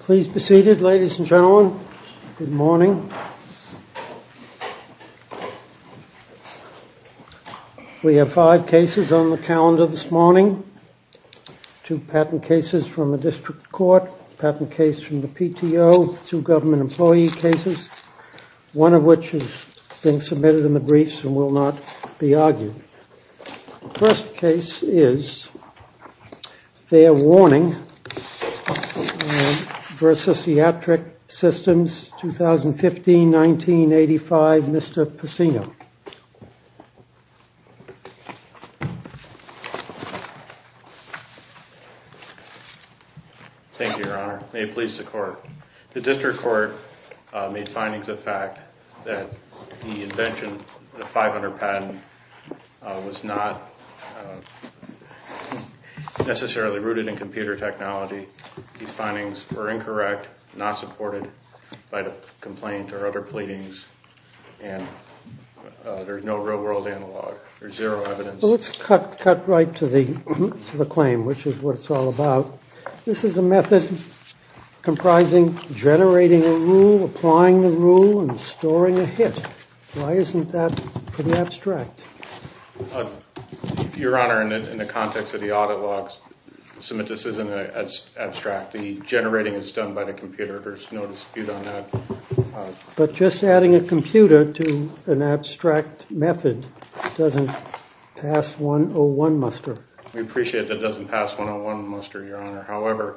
Please be seated, ladies and gentlemen. Good morning. We have five cases on the calendar this morning. Two patent cases from the district court, a patent case from the PTO, two government employee cases, one of which has been submitted in the briefs and will not be argued. First case is FairWarning v. Iatric Systems, 2015-1985, Mr. Pacino. Thank you, Your Honor. May it be so. The district court made findings of fact that the invention, the 500 patent, was not necessarily rooted in computer technology. These findings were incorrect, not supported by the complaint or other pleadings, and there's no real-world analog. There's zero evidence. So let's cut right to the claim, which is what it's all about. This is a method comprising generating a rule, applying the rule, and storing a hit. Why isn't that pretty abstract? Your Honor, in the context of the audit logs, this isn't abstract. The generating is done by the computer. There's no dispute on that. But just adding a computer to an abstract method doesn't pass 101 muster. We appreciate that it doesn't pass 101 muster, Your Honor. However,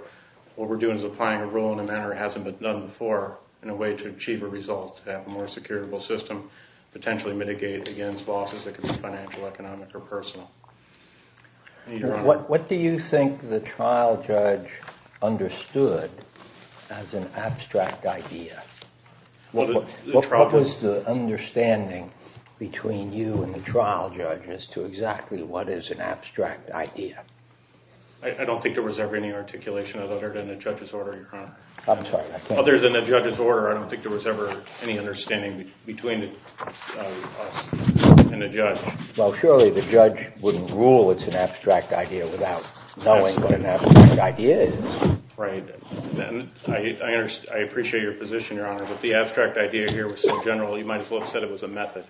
what we're doing is applying a rule in a manner that hasn't been done before in a way to achieve a result, to have a more securable system, potentially mitigate against losses that can be financial, economic, or personal. What do you think the trial judge understood as an abstract idea? What was the understanding between you and the trial judge as to exactly what is an abstract idea? I don't think there was ever any articulation other than the judge's order, Your Honor. Other than the judge's order, I don't think there was ever any understanding between us and the judge. Well, surely the judge wouldn't rule it's an abstract idea without knowing what an abstract idea is. Right. I appreciate your position, Your Honor. But the abstract idea here was so general, you might as well have said it was a method.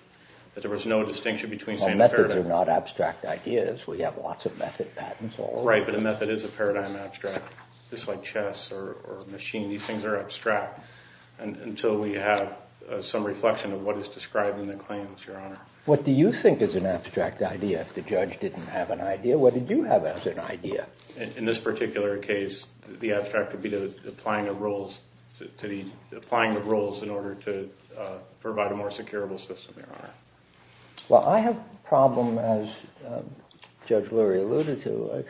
That there was no distinction between saying a paradigm. Well, methods are not abstract ideas. We have lots of method patents. Right, but a method is a paradigm abstract, just like chess or machine. These things are abstract until we have some reflection of what is described in the claims, Your Honor. What do you think is an abstract idea if the judge didn't have an idea? What did you have as an idea? In this particular case, the abstract would be applying the rules in order to provide a more securable system, Your Honor. Well, I have a problem, as Judge Lurie alluded to,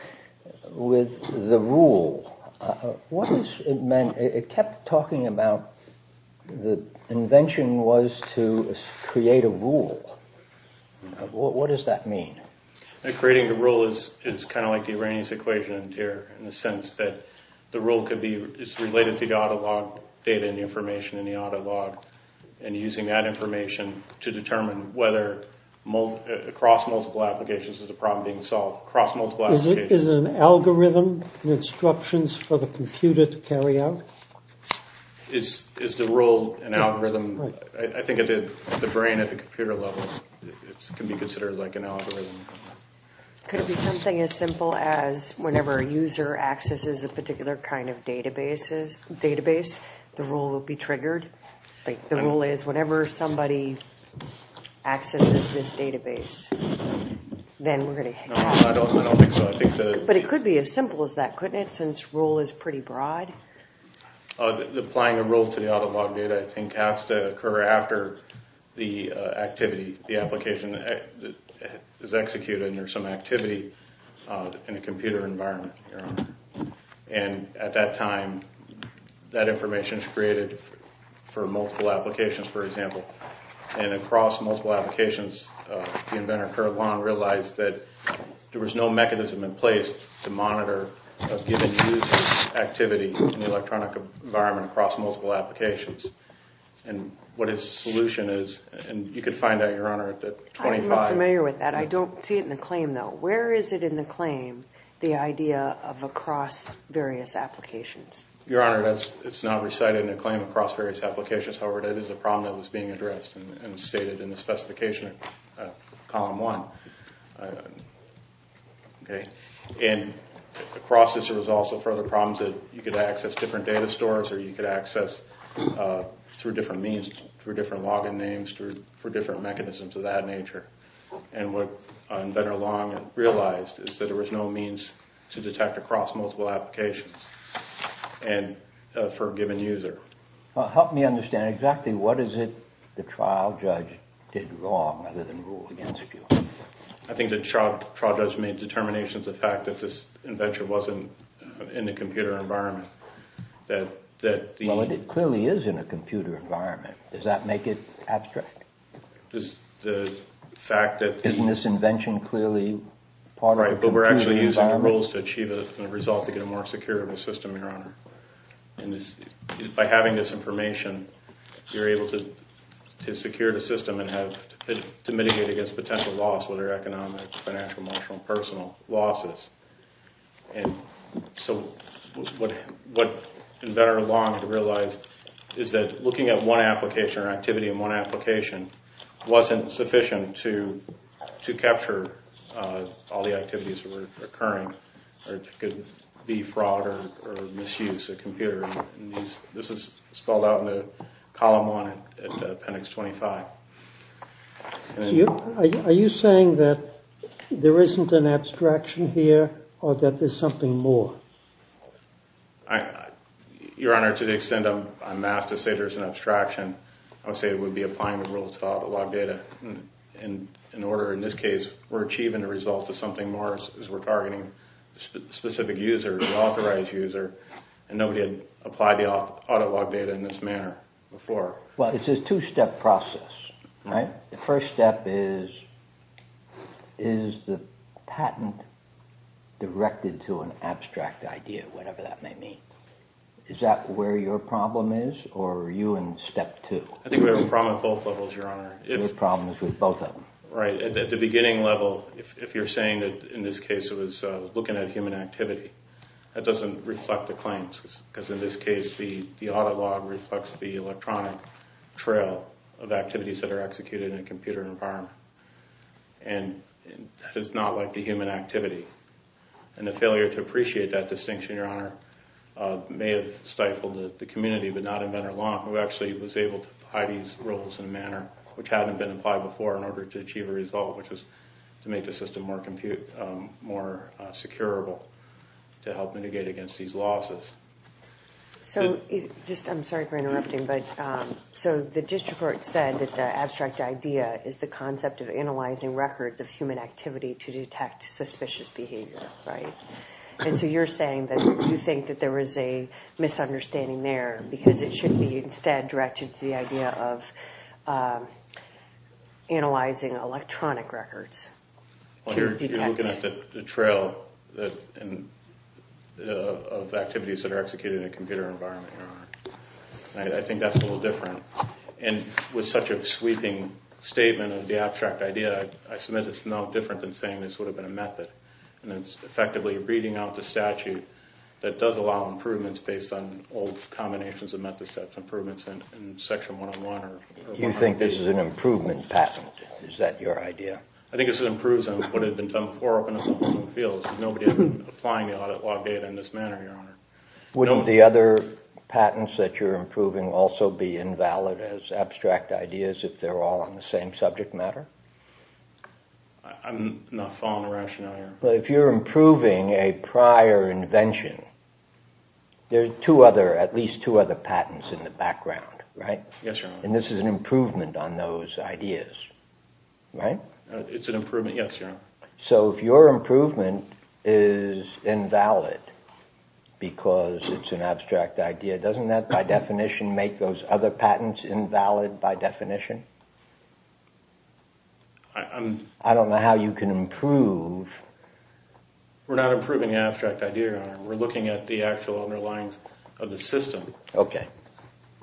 with the rule. What does it mean? It kept talking about the invention was to create a rule. What does that mean? Creating the rule is kind of like the Arrhenius equation here, in the sense that the rule is related to the auto log data and the information in the auto log, and using that information to determine whether across multiple applications is a problem being solved. Is it an algorithm, instructions for the computer to carry out? Is the rule an algorithm? I think at the computer level, it can be considered like an algorithm. Could it be something as simple as whenever a user accesses a particular kind of database, the rule will be triggered? Like the rule is whenever somebody accesses this database, then we're going to... I don't think so. But it could be as simple as that, couldn't it, since rule is pretty broad? Applying a rule to the activity, the application is executed and there's some activity in a computer environment. And at that time, that information is created for multiple applications, for example. And across multiple applications, the inventor realized that there was no mechanism in place to monitor activity in the electronic environment across multiple applications. And what his solution is, and you could find out, Your Honor, at 25. I'm not familiar with that. I don't see it in the claim though. Where is it in the claim, the idea of across various applications? Your Honor, it's not recited in a claim across various applications. However, that is a problem that was being processed. There was also further problems that you could access different data stores or you could access through different means, through different login names, through different mechanisms of that nature. And what Inventor Long realized is that there was no means to detect across multiple applications and for a given user. Help me understand exactly what is it the trial judge did wrong other than rule against you? I think the trial judge made determinations of fact that this wasn't in the computer environment. Well, it clearly is in a computer environment. Does that make it abstract? Isn't this invention clearly part of the computer environment? Right, but we're actually using the rules to achieve a result to get a more secure of a system, Your Honor. By having this information, you're able to secure the system and to mitigate against potential loss, whether economic, financial, emotional, personal losses. And so what Inventor Long had realized is that looking at one application or activity in one application wasn't sufficient to capture all the activities that were occurring. It could be Are you saying that there isn't an abstraction here or that there's something more? Your Honor, to the extent I'm asked to say there's an abstraction, I would say it would be applying the rules to audit log data. And in order, in this case, we're achieving a result to something more as we're targeting specific users, an authorized user, and nobody had applied the audit log data in this manner before. Well, it's a two-step process, right? The first step is, is the patent directed to an abstract idea, whatever that may mean. Is that where your problem is, or are you in step two? I think we have a problem at both levels, Your Honor. You have problems with both of them? Right, at the beginning level, if you're saying that, in this case, it was looking at human activity, that doesn't reflect the claims, because in this case, the audit log reflects the electronic trail of activities that are executed in a computer environment. And that is not like the human activity. And the failure to appreciate that distinction, Your Honor, may have stifled the community, but not Inventor Long, who actually was able to apply these rules in a manner which hadn't been applied before in order to achieve a result, which was to make the system more secureable to help mitigate against these I'm sorry for interrupting, but so the district court said that the abstract idea is the concept of analyzing records of human activity to detect suspicious behavior, right? And so you're saying that you think that there is a misunderstanding there, because it should be instead directed to the idea of analyzing electronic records. You're looking at the trail of activities that are executed in a computer environment, Your Honor. And I think that's a little different. And with such a sweeping statement of the abstract idea, I submit it's no different than saying this would have been a method. And it's effectively reading out the statute that does allow improvements based on old combinations of methods, such as improvements in section 101. You think this is an improvement patent? Is that your idea? I think this improves on what had been done before in the field. Nobody had been applying the audit law data in this manner, Your Honor. Wouldn't the other patents that you're improving also be invalid as abstract ideas if they're all on the same subject matter? I'm not following the rationale here. Well, if you're improving a prior invention, there are at least two other patents in the background, right? Yes, Your Honor. And this is an improvement on those ideas, right? It's an improvement, yes, Your Honor. So if your improvement is invalid because it's an abstract idea, doesn't that by definition make those other patents invalid by definition? I don't know how you can improve... We're not improving the abstract idea, Your Honor. We're looking at the actual underlyings of the system. Okay.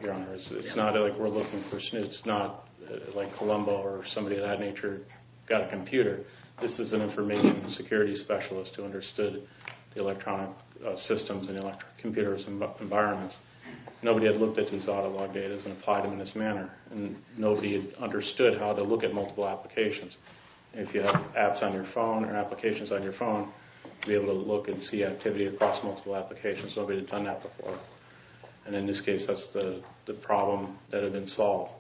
Your Honor, it's not like we're looking for snooze. It's not like Columbo or somebody of that nature got a computer. This is an information security specialist who understood the electronic systems and electric computers and environments. Nobody had looked at these autolog data and applied them in this manner. And nobody understood how to look at multiple applications. If you have apps on your phone or applications on your phone, you'll be able to look and see activity across multiple applications. Nobody had done that before. And in this case, that's the problem that had been solved.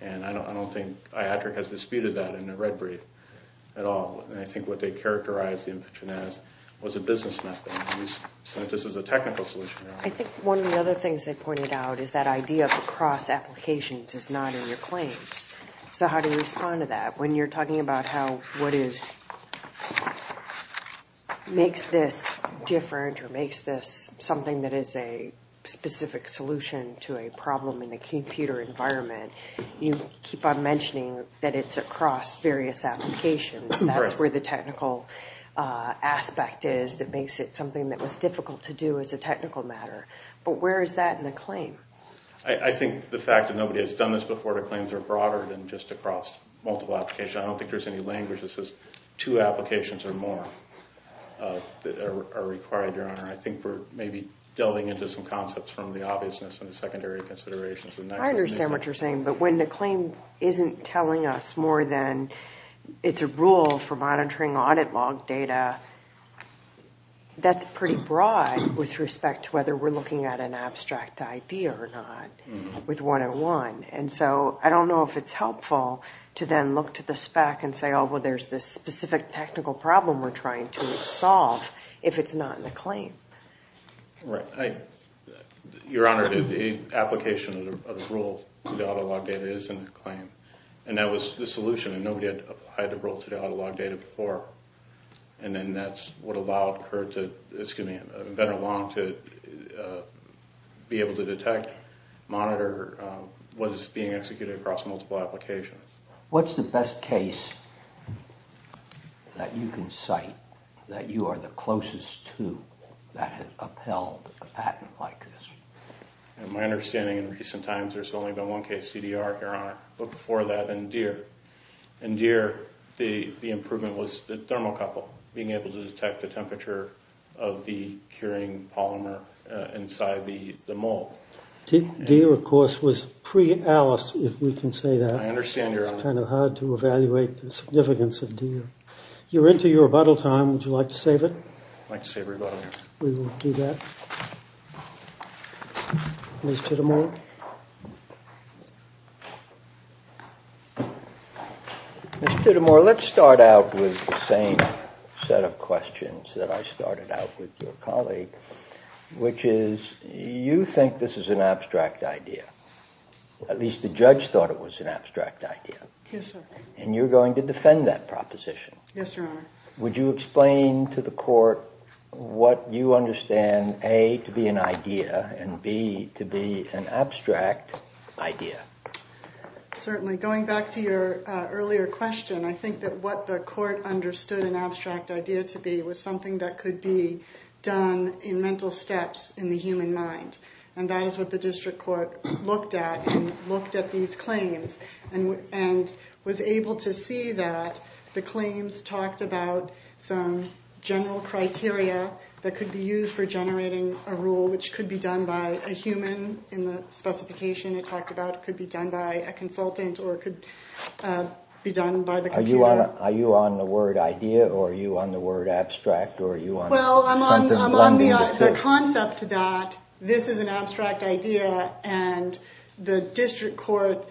And I don't think IATRIC has disputed that in the red brief at all. And I think what they characterized the invention as was a business method. And this is a technical solution, Your Honor. I think one of the other things they pointed out is that idea of across applications is not in your claims. So how do you respond to that? When you're talking about how what makes this different or makes this something that is a specific solution to a problem in the computer environment, you keep on mentioning that it's across various applications. That's where the technical aspect is that makes it something that was difficult to do as a technical matter. But where is that in the claim? I think the fact that nobody has done this before, the claims are broader than just across multiple applications. I don't think there's any language that says two applications or more are required, Your Honor. I think we're maybe delving into some concepts from the obviousness and the secondary considerations. I understand what you're saying. But when the claim isn't telling us more than it's a rule for monitoring audit log data, that's pretty broad with respect to whether we're looking at an abstract idea or not with 101. And so I don't know if it's helpful to then look to the spec and say, oh, well, there's this specific technical problem we're trying to solve if it's not in the claim. Right. Your Honor, the application of the rule to the audit log data is in the claim. And that was the solution. And nobody had applied the rule to the audit log data before. And then that's what allowed Kurt to, excuse me, Venner Long to be able to detect, monitor what is being executed across multiple applications. What's the best case that you can cite that you are the closest to that has upheld a patent like this? My understanding in recent times, there's only been one case, CDR, Your Honor. But before that, in Deere. In Deere, the improvement was the thermocouple, being able to detect the temperature of the curing polymer inside the mold. Deere, of course, was pre-ALICE, if we can say that. It's kind of hard to evaluate the significance of Deere. You're into your rebuttal time. Would you like to save it? I'd like to save rebuttal time. We will do that. Mr. Tittemore. Mr. Tittemore, let's start out with the same set of questions that I started out with your colleague, which is, you think this is an abstract idea. At least the judge thought it was an abstract idea. Yes, sir. And you're going to defend that proposition. Yes, Your Honor. Would you explain to the court what you understand, A, to be an idea, and B, to be an abstract idea? Certainly. Going back to your earlier question, I think that what the court understood an abstract idea to be was something that could be done in mental steps in the human mind. And that is what the district court looked at, and looked at these claims, and was able to see that the claims talked about some general criteria that could be used for generating a rule, which could be done by a human in the specification it talked about. It could be done by a consultant, or it could be done by the computer. Are you on the word idea, or are you on the word abstract, or are you on something blended? I'm on the concept that this is an abstract idea, and the district court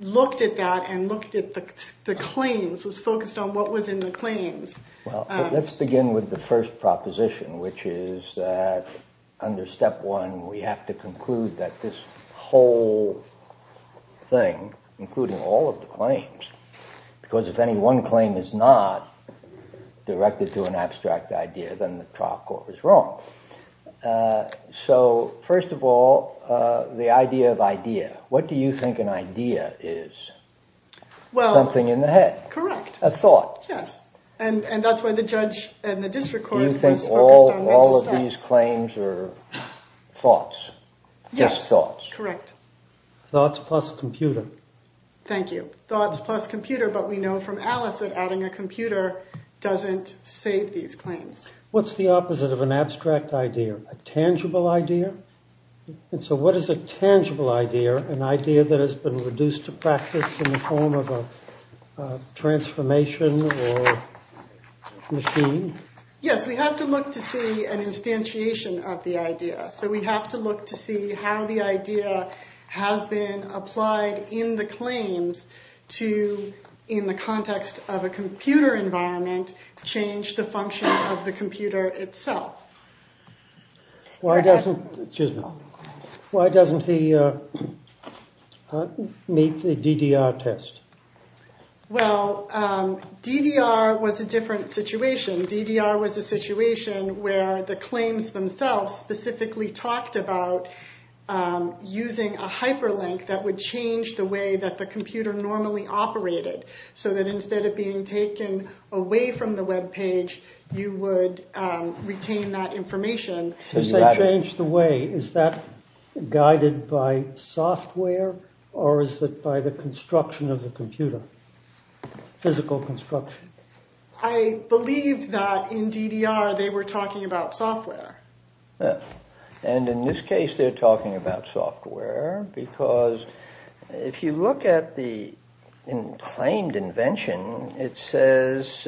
looked at that, and looked at the claims, was focused on what was in the claims. Let's begin with the first proposition, which is that under step one, we have to conclude that this whole thing, including all of the claims, because if any one claim is not directed to an abstract idea, then the trial court was wrong. So first of all, the idea of idea. What do you think an idea is? Something in the head. Correct. A thought. Yes. And that's why the judge and the district court was focused on mental steps. All of these claims are thoughts. Yes, correct. Thoughts plus computer. Thank you. Thoughts plus computer. But we know from Alice that adding a computer doesn't save these claims. What's the opposite of an abstract idea? A tangible idea? And so what is a tangible idea? An idea that has been reduced to practice in the form of a transformation or machine? Yes, we have to look to see an instantiation of the idea. So we have to look to see how the idea has been applied in the claims to, in the context of a computer environment, change the function of the computer itself. Why doesn't, excuse me, why doesn't the, meet the DDR test? Well, DDR was a different situation. DDR was a situation where the claims themselves specifically talked about using a hyperlink that would change the way that the computer normally operated. So that instead of being taken away from the web page, you would retain that information. As they change the way, is that guided by software? Or is it by the construction of the computer? Physical construction. I believe that in DDR, they were talking about software. And in this case, they're talking about software. Because if you look at the claimed invention, it says,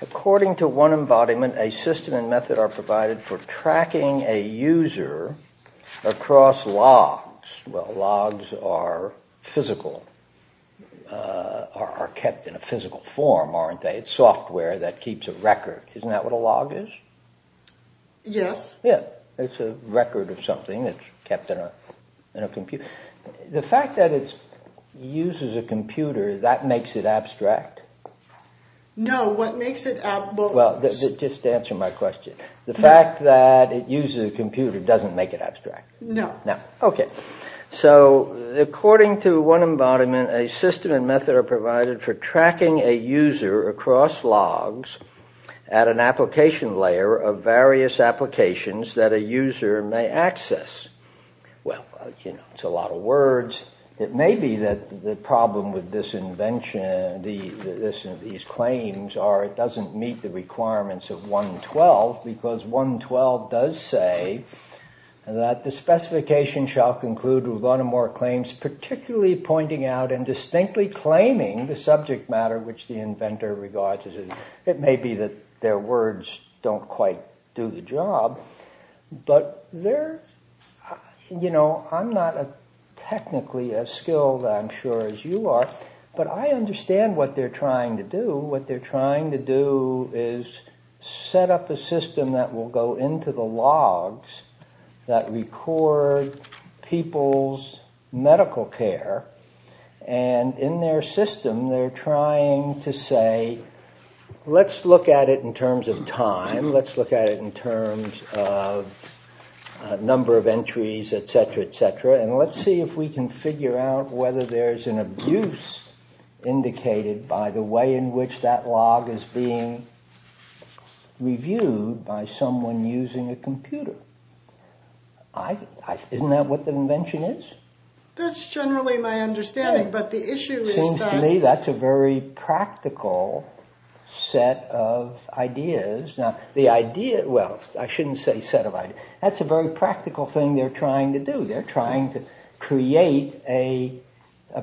according to one embodiment, a system and method are provided for tracking a user across logs. Well, logs are physical, are kept in a physical form, aren't they? It's software that keeps a record. Isn't that what a log is? Yes. Yeah. It's a record of something that's kept in a computer. The fact that it uses a computer, that makes it abstract? No, what makes it abstract... Well, just answer my question. The fact that it uses a computer doesn't make it abstract? No. Okay, so according to one embodiment, a system and method are provided for tracking a user across logs at an application layer of various applications that a user may access. Well, it's a lot of words. It may be that the problem with this invention, these claims, are it doesn't meet the requirements of 112. Because 112 does say that the specification shall conclude with one or more claims, particularly pointing out and distinctly claiming the subject matter which the inventor regards. It may be that their words don't quite do the job. But I'm not technically as skilled, I'm sure, as you are. But I understand what they're trying to do. What they're trying to do is set up a system that will go into the logs that record people's medical care. And in their system, they're trying to say, let's look at it in terms of time. Let's look at it in terms of number of entries, etc, etc. And let's see if we can figure out whether there's an abuse indicated by the way in which that log is being reviewed by someone using a computer. Isn't that what the invention is? That's generally my understanding. But the issue is that... Seems to me that's a very practical set of ideas. Now, the idea... Well, I shouldn't say set of ideas. That's a very practical thing they're trying to do. They're trying to create a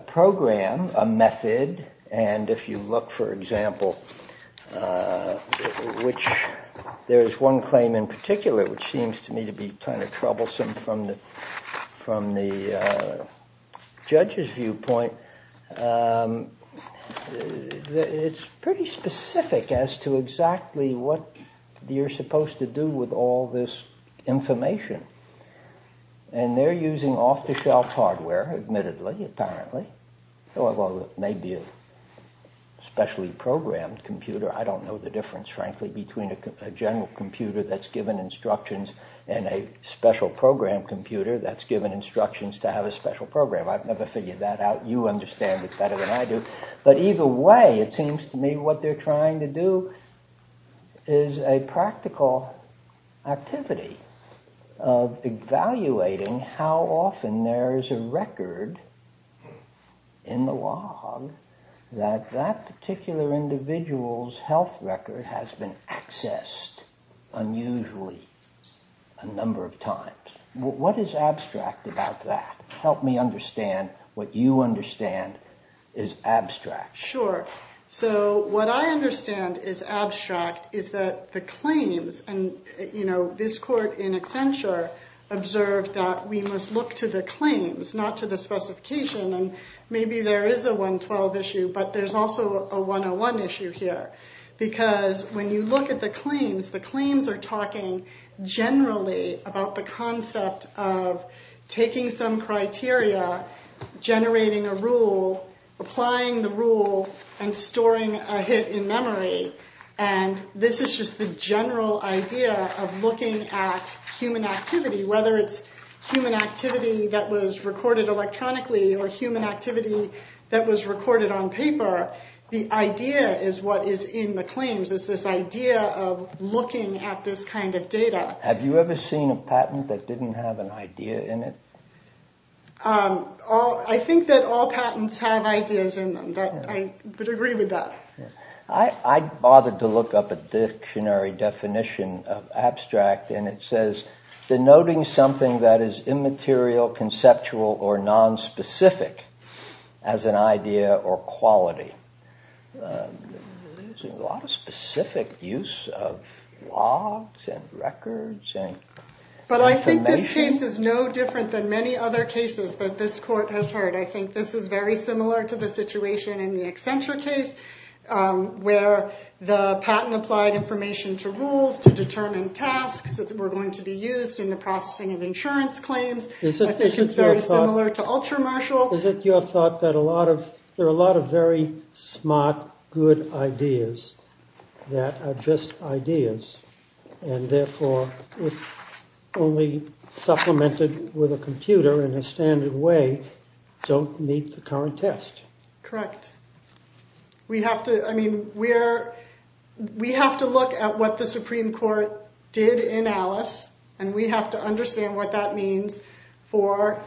program, a method. And if you look, for example, which there is one claim in particular, which seems to me to be kind of troublesome from the judge's viewpoint. It's pretty specific as to exactly what you're supposed to do with all this information. And they're using off-the-shelf hardware, admittedly, apparently. Although it may be a specially programmed computer. I don't know the difference, frankly, between a general computer that's given instructions and a special program computer that's given instructions to have a special program. I've never figured that out. You understand it better than I do. But either way, it seems to me what they're trying to do is a practical activity of evaluating how often there is a record in the log that that particular individual's health record has been accessed unusually a number of times. What is abstract about that? Help me understand what you understand is abstract. Sure. So what I understand is abstract is that the claims... This court in Accenture observed that we must look to the claims, not to the specification. And maybe there is a 112 issue, but there's also a 101 issue here. Because when you look at the claims, the claims are talking generally about the concept of taking some criteria, generating a rule, applying the rule, and storing a hit in memory. And this is just the general idea of looking at human activity, whether it's human activity that was recorded electronically or human activity that was recorded on paper. The idea is what is in the claims. It's this idea of looking at this kind of data. Have you ever seen a patent that didn't have an idea in it? I think that all patents have ideas in them. But I would agree with that. I bothered to look up a dictionary definition of abstract, and it says denoting something that is immaterial, conceptual, or nonspecific as an idea or quality. A lot of specific use of logs and records. But I think this case is no different than many other cases that this court has heard. I think this is very similar to the situation in the Accenture case. Where the patent applied information to rules to determine tasks that were going to be used in the processing of insurance claims. I think it's very similar to Ultramarshall. Is it your thought that there are a lot of very smart, good ideas that are just ideas? And therefore, if only supplemented with a computer in a standard way, don't meet the current test? Correct. We have to look at what the Supreme Court did in Alice, and we have to understand what that means for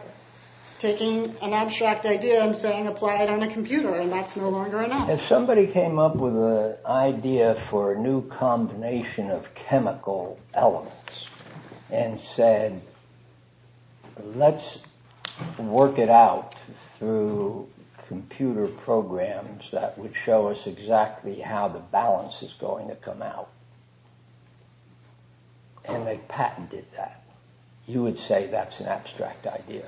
taking an abstract idea and saying apply it on a computer. And that's no longer enough. If somebody came up with an idea for a new combination of chemical elements and said, let's work it out through computer programs that would show us exactly how the balance is going to come out. And they patented that. You would say that's an abstract idea?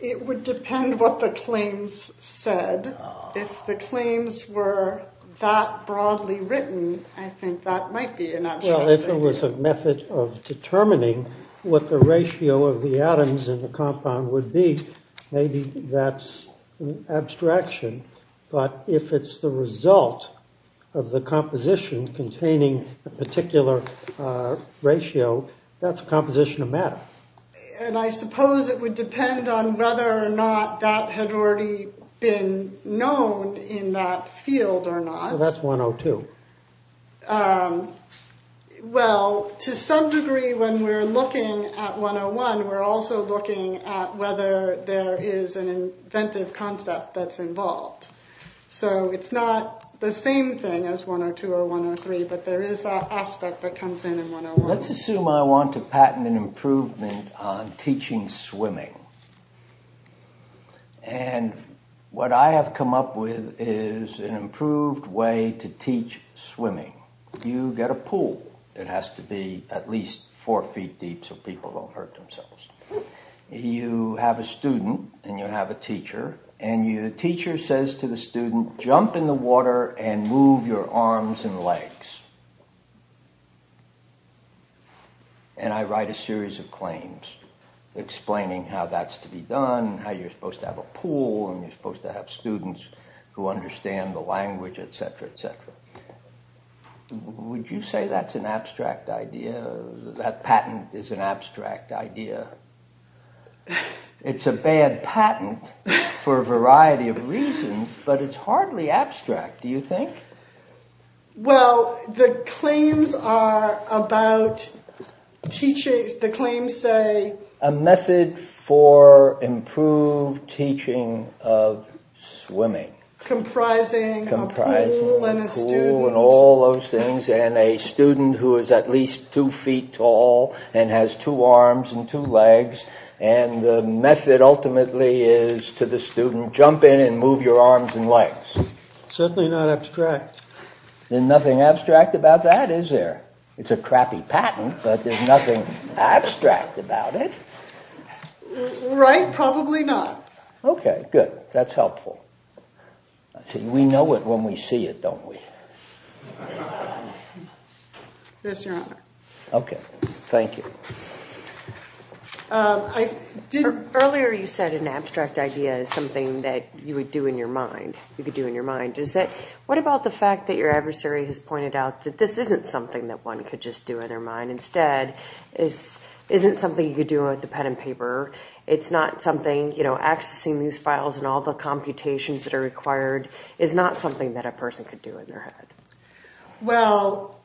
It would depend what the claims said. If the claims were that broadly written, I think that might be an abstract idea. If it was a method of determining what the ratio of the atoms in the compound would be, maybe that's abstraction. But if it's the result of the composition containing a particular ratio, that's composition of matter. And I suppose it would depend on whether or not that had already been known in that field or not. That's 102. Well, to some degree, when we're looking at 101, we're also looking at whether there is an inventive concept that's involved. So it's not the same thing as 102 or 103, but there is that aspect that comes in in 101. Let's assume I want to patent an improvement on teaching swimming. And what I have come up with is an improved way to teach swimming. You get a pool. It has to be at least four feet deep so people don't hurt themselves. You have a student and you have a teacher, and the teacher says to the student, jump in the water and move your arms and legs. And I write a series of claims explaining how that works. How you're supposed to have a pool, and you're supposed to have students who understand the language, etc. Would you say that's an abstract idea? That patent is an abstract idea? It's a bad patent for a variety of reasons, but it's hardly abstract, do you think? Well, the claims are about teaching... The claims say... A method for improved teaching of swimming. Comprising a pool and a student. All those things, and a student who is at least two feet tall and has two arms and two legs. And the method ultimately is to the student, jump in and move your arms and legs. Certainly not abstract. There's nothing abstract about that, is there? It's a crappy patent, but there's nothing abstract about it. Right? Probably not. Okay, good. That's helpful. We know it when we see it, don't we? Yes, your honor. Okay, thank you. Earlier you said an abstract idea is something that you would do in your mind. Is that... What about the fact that your adversary has pointed out that this isn't something that one could just do in their mind? Instead, it isn't something you could do with a pen and paper. It's not something, you know, accessing these files and all the computations that are required is not something that a person could do in their head. Well,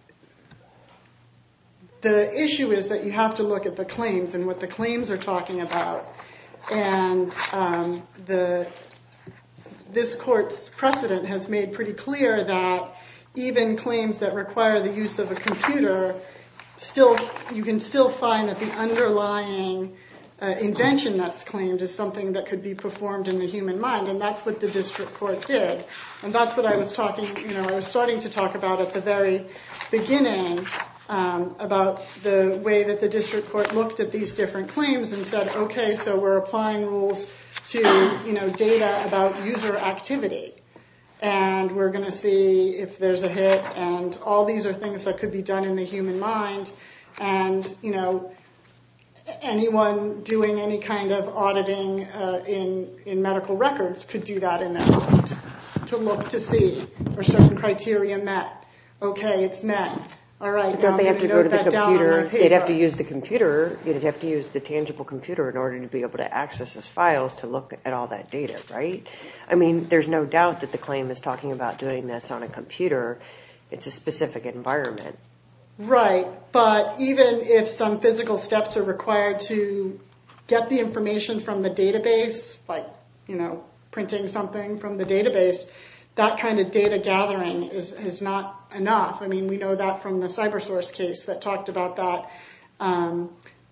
the issue is that you have to look at the claims and what the claims are talking about. And this court's precedent has made pretty clear that even claims that require the use of a computer, you can still find that the underlying invention that's claimed is something that could be performed in the human mind. And that's what the district court did. And that's what I was talking, you know, I was starting to talk about at the very beginning about the way that the district court looked at these different claims and said, okay, so we're applying rules to, you know, data about user activity. And we're going to see if there's a hit. And all these are things that could be done in the human mind. And, you know, anyone doing any kind of auditing in medical records could do that in their mind. To look, to see, are certain criteria met? Okay, it's met. All right, now I'm going to note that down on my paper. They'd have to use the computer. You'd have to use the tangible computer in order to be able to access those files to look at all that data, right? I mean, there's no doubt that the claim is talking about doing this on a computer. It's a specific environment. Right, but even if some physical steps are required to get the information from the database, like, you know, printing something from the database, that kind of data gathering is not enough. I mean, we know that from the CyberSource case that talked about that.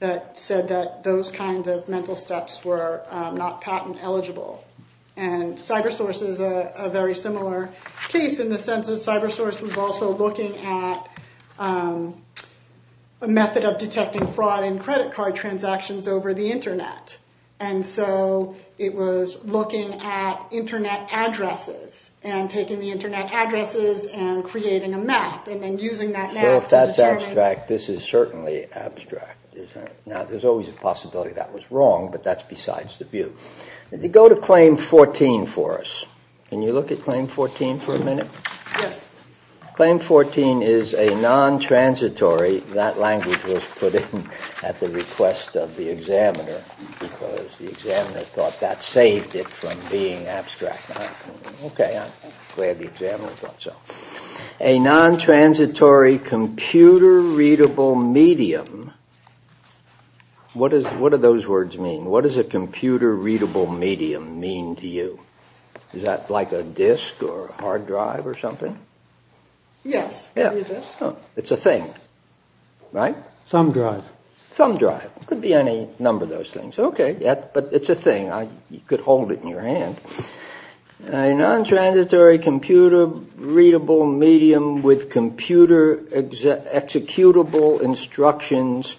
That said that those kinds of mental steps were not patent eligible. And CyberSource is a very similar case. In the sense that CyberSource was also looking at a method of detecting fraud in credit card transactions over the internet. And so it was looking at internet addresses and taking the internet addresses and creating a map and then using that map to determine— So if that's abstract, this is certainly abstract, isn't it? Now, there's always a possibility that was wrong, but that's besides the view. Go to Claim 14 for us. Can you look at Claim 14 for a minute? Yes. Claim 14 is a non-transitory— that language was put in at the request of the examiner because the examiner thought that saved it from being abstract. Okay, I'm glad the examiner thought so. A non-transitory computer-readable medium What do those words mean? What does a computer-readable medium mean to you? Is that like a disk or a hard drive or something? Yes. It's a thing, right? Thumb drive. Thumb drive. Could be any number of those things. Okay, but it's a thing. I could hold it in your hand. A non-transitory computer-readable medium with computer-executable instructions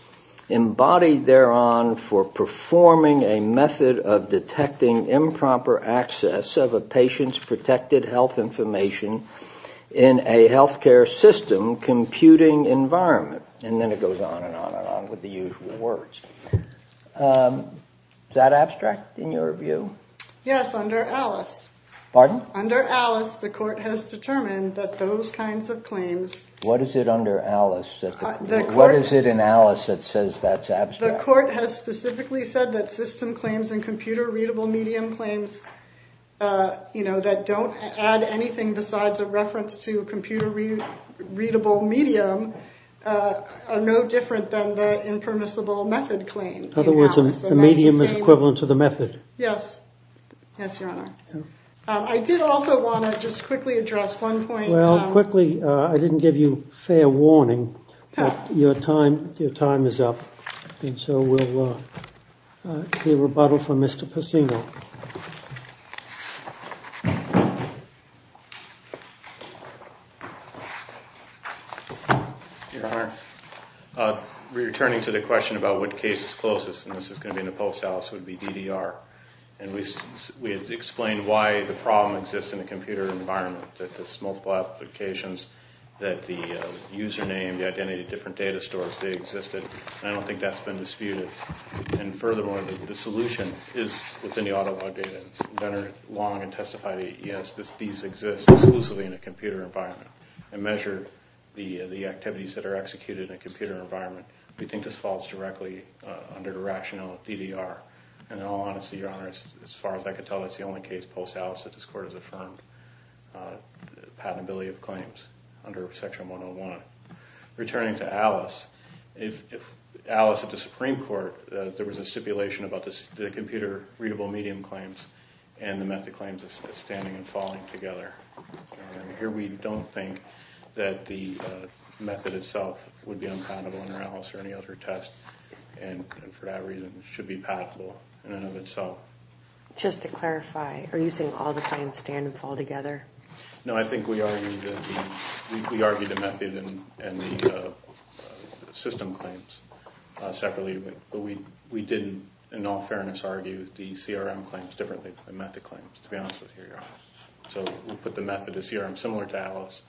embodied thereon for performing a method of detecting improper access of a patient's protected health information in a healthcare system computing environment. And then it goes on and on and on with the usual words. Is that abstract in your view? Yes, under Alice. Pardon? What is it under Alice? What is it in Alice that says that's abstract? The court has specifically said that system claims and computer-readable medium claims that don't add anything besides a reference to computer-readable medium are no different than the impermissible method claim. In other words, the medium is equivalent to the method? Yes. Yes, your honor. I did also want to just quickly address one point. Well, quickly. I didn't give you fair warning, but your time is up. And so we'll hear rebuttal from Mr. Pacino. Your honor, returning to the question about what case is closest, and this is going to be in the post, Alice, would be DDR. And we had explained why the problem exists in a computer environment, that there's multiple applications, that the username, the identity of different data stores, they existed. And I don't think that's been disputed. And furthermore, the solution is within the auto log data. And it's been done long and testified, yes, these exist exclusively in a computer environment. And measure the activities that are executed in a computer environment. We think this falls directly under the rationale of DDR. And in all honesty, your honor, as far as I could tell, that's the only case post Alice that this court has affirmed the patentability of claims under section 101. Returning to Alice, if Alice at the Supreme Court, there was a stipulation about the computer readable medium claims and the method claims as standing and falling together. And here we don't think that the method itself would be unpatentable under Alice or any other test. And for that reason, it should be patentable in and of itself. Just to clarify, are you saying all the claims stand and fall together? No, I think we argued the method and the system claims separately. But we didn't, in all fairness, argue the CRM claims differently than the method claims, to be honest with you, your honor. So we put the method as CRM, similar to Alice.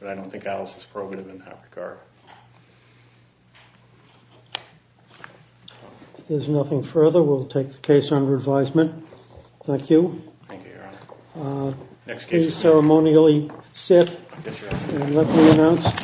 But I don't think Alice is probative in that regard. If there's nothing further, we'll take the case under advisement. Thank you. Thank you, your honor. Next case. Please ceremonially sit and let me announce.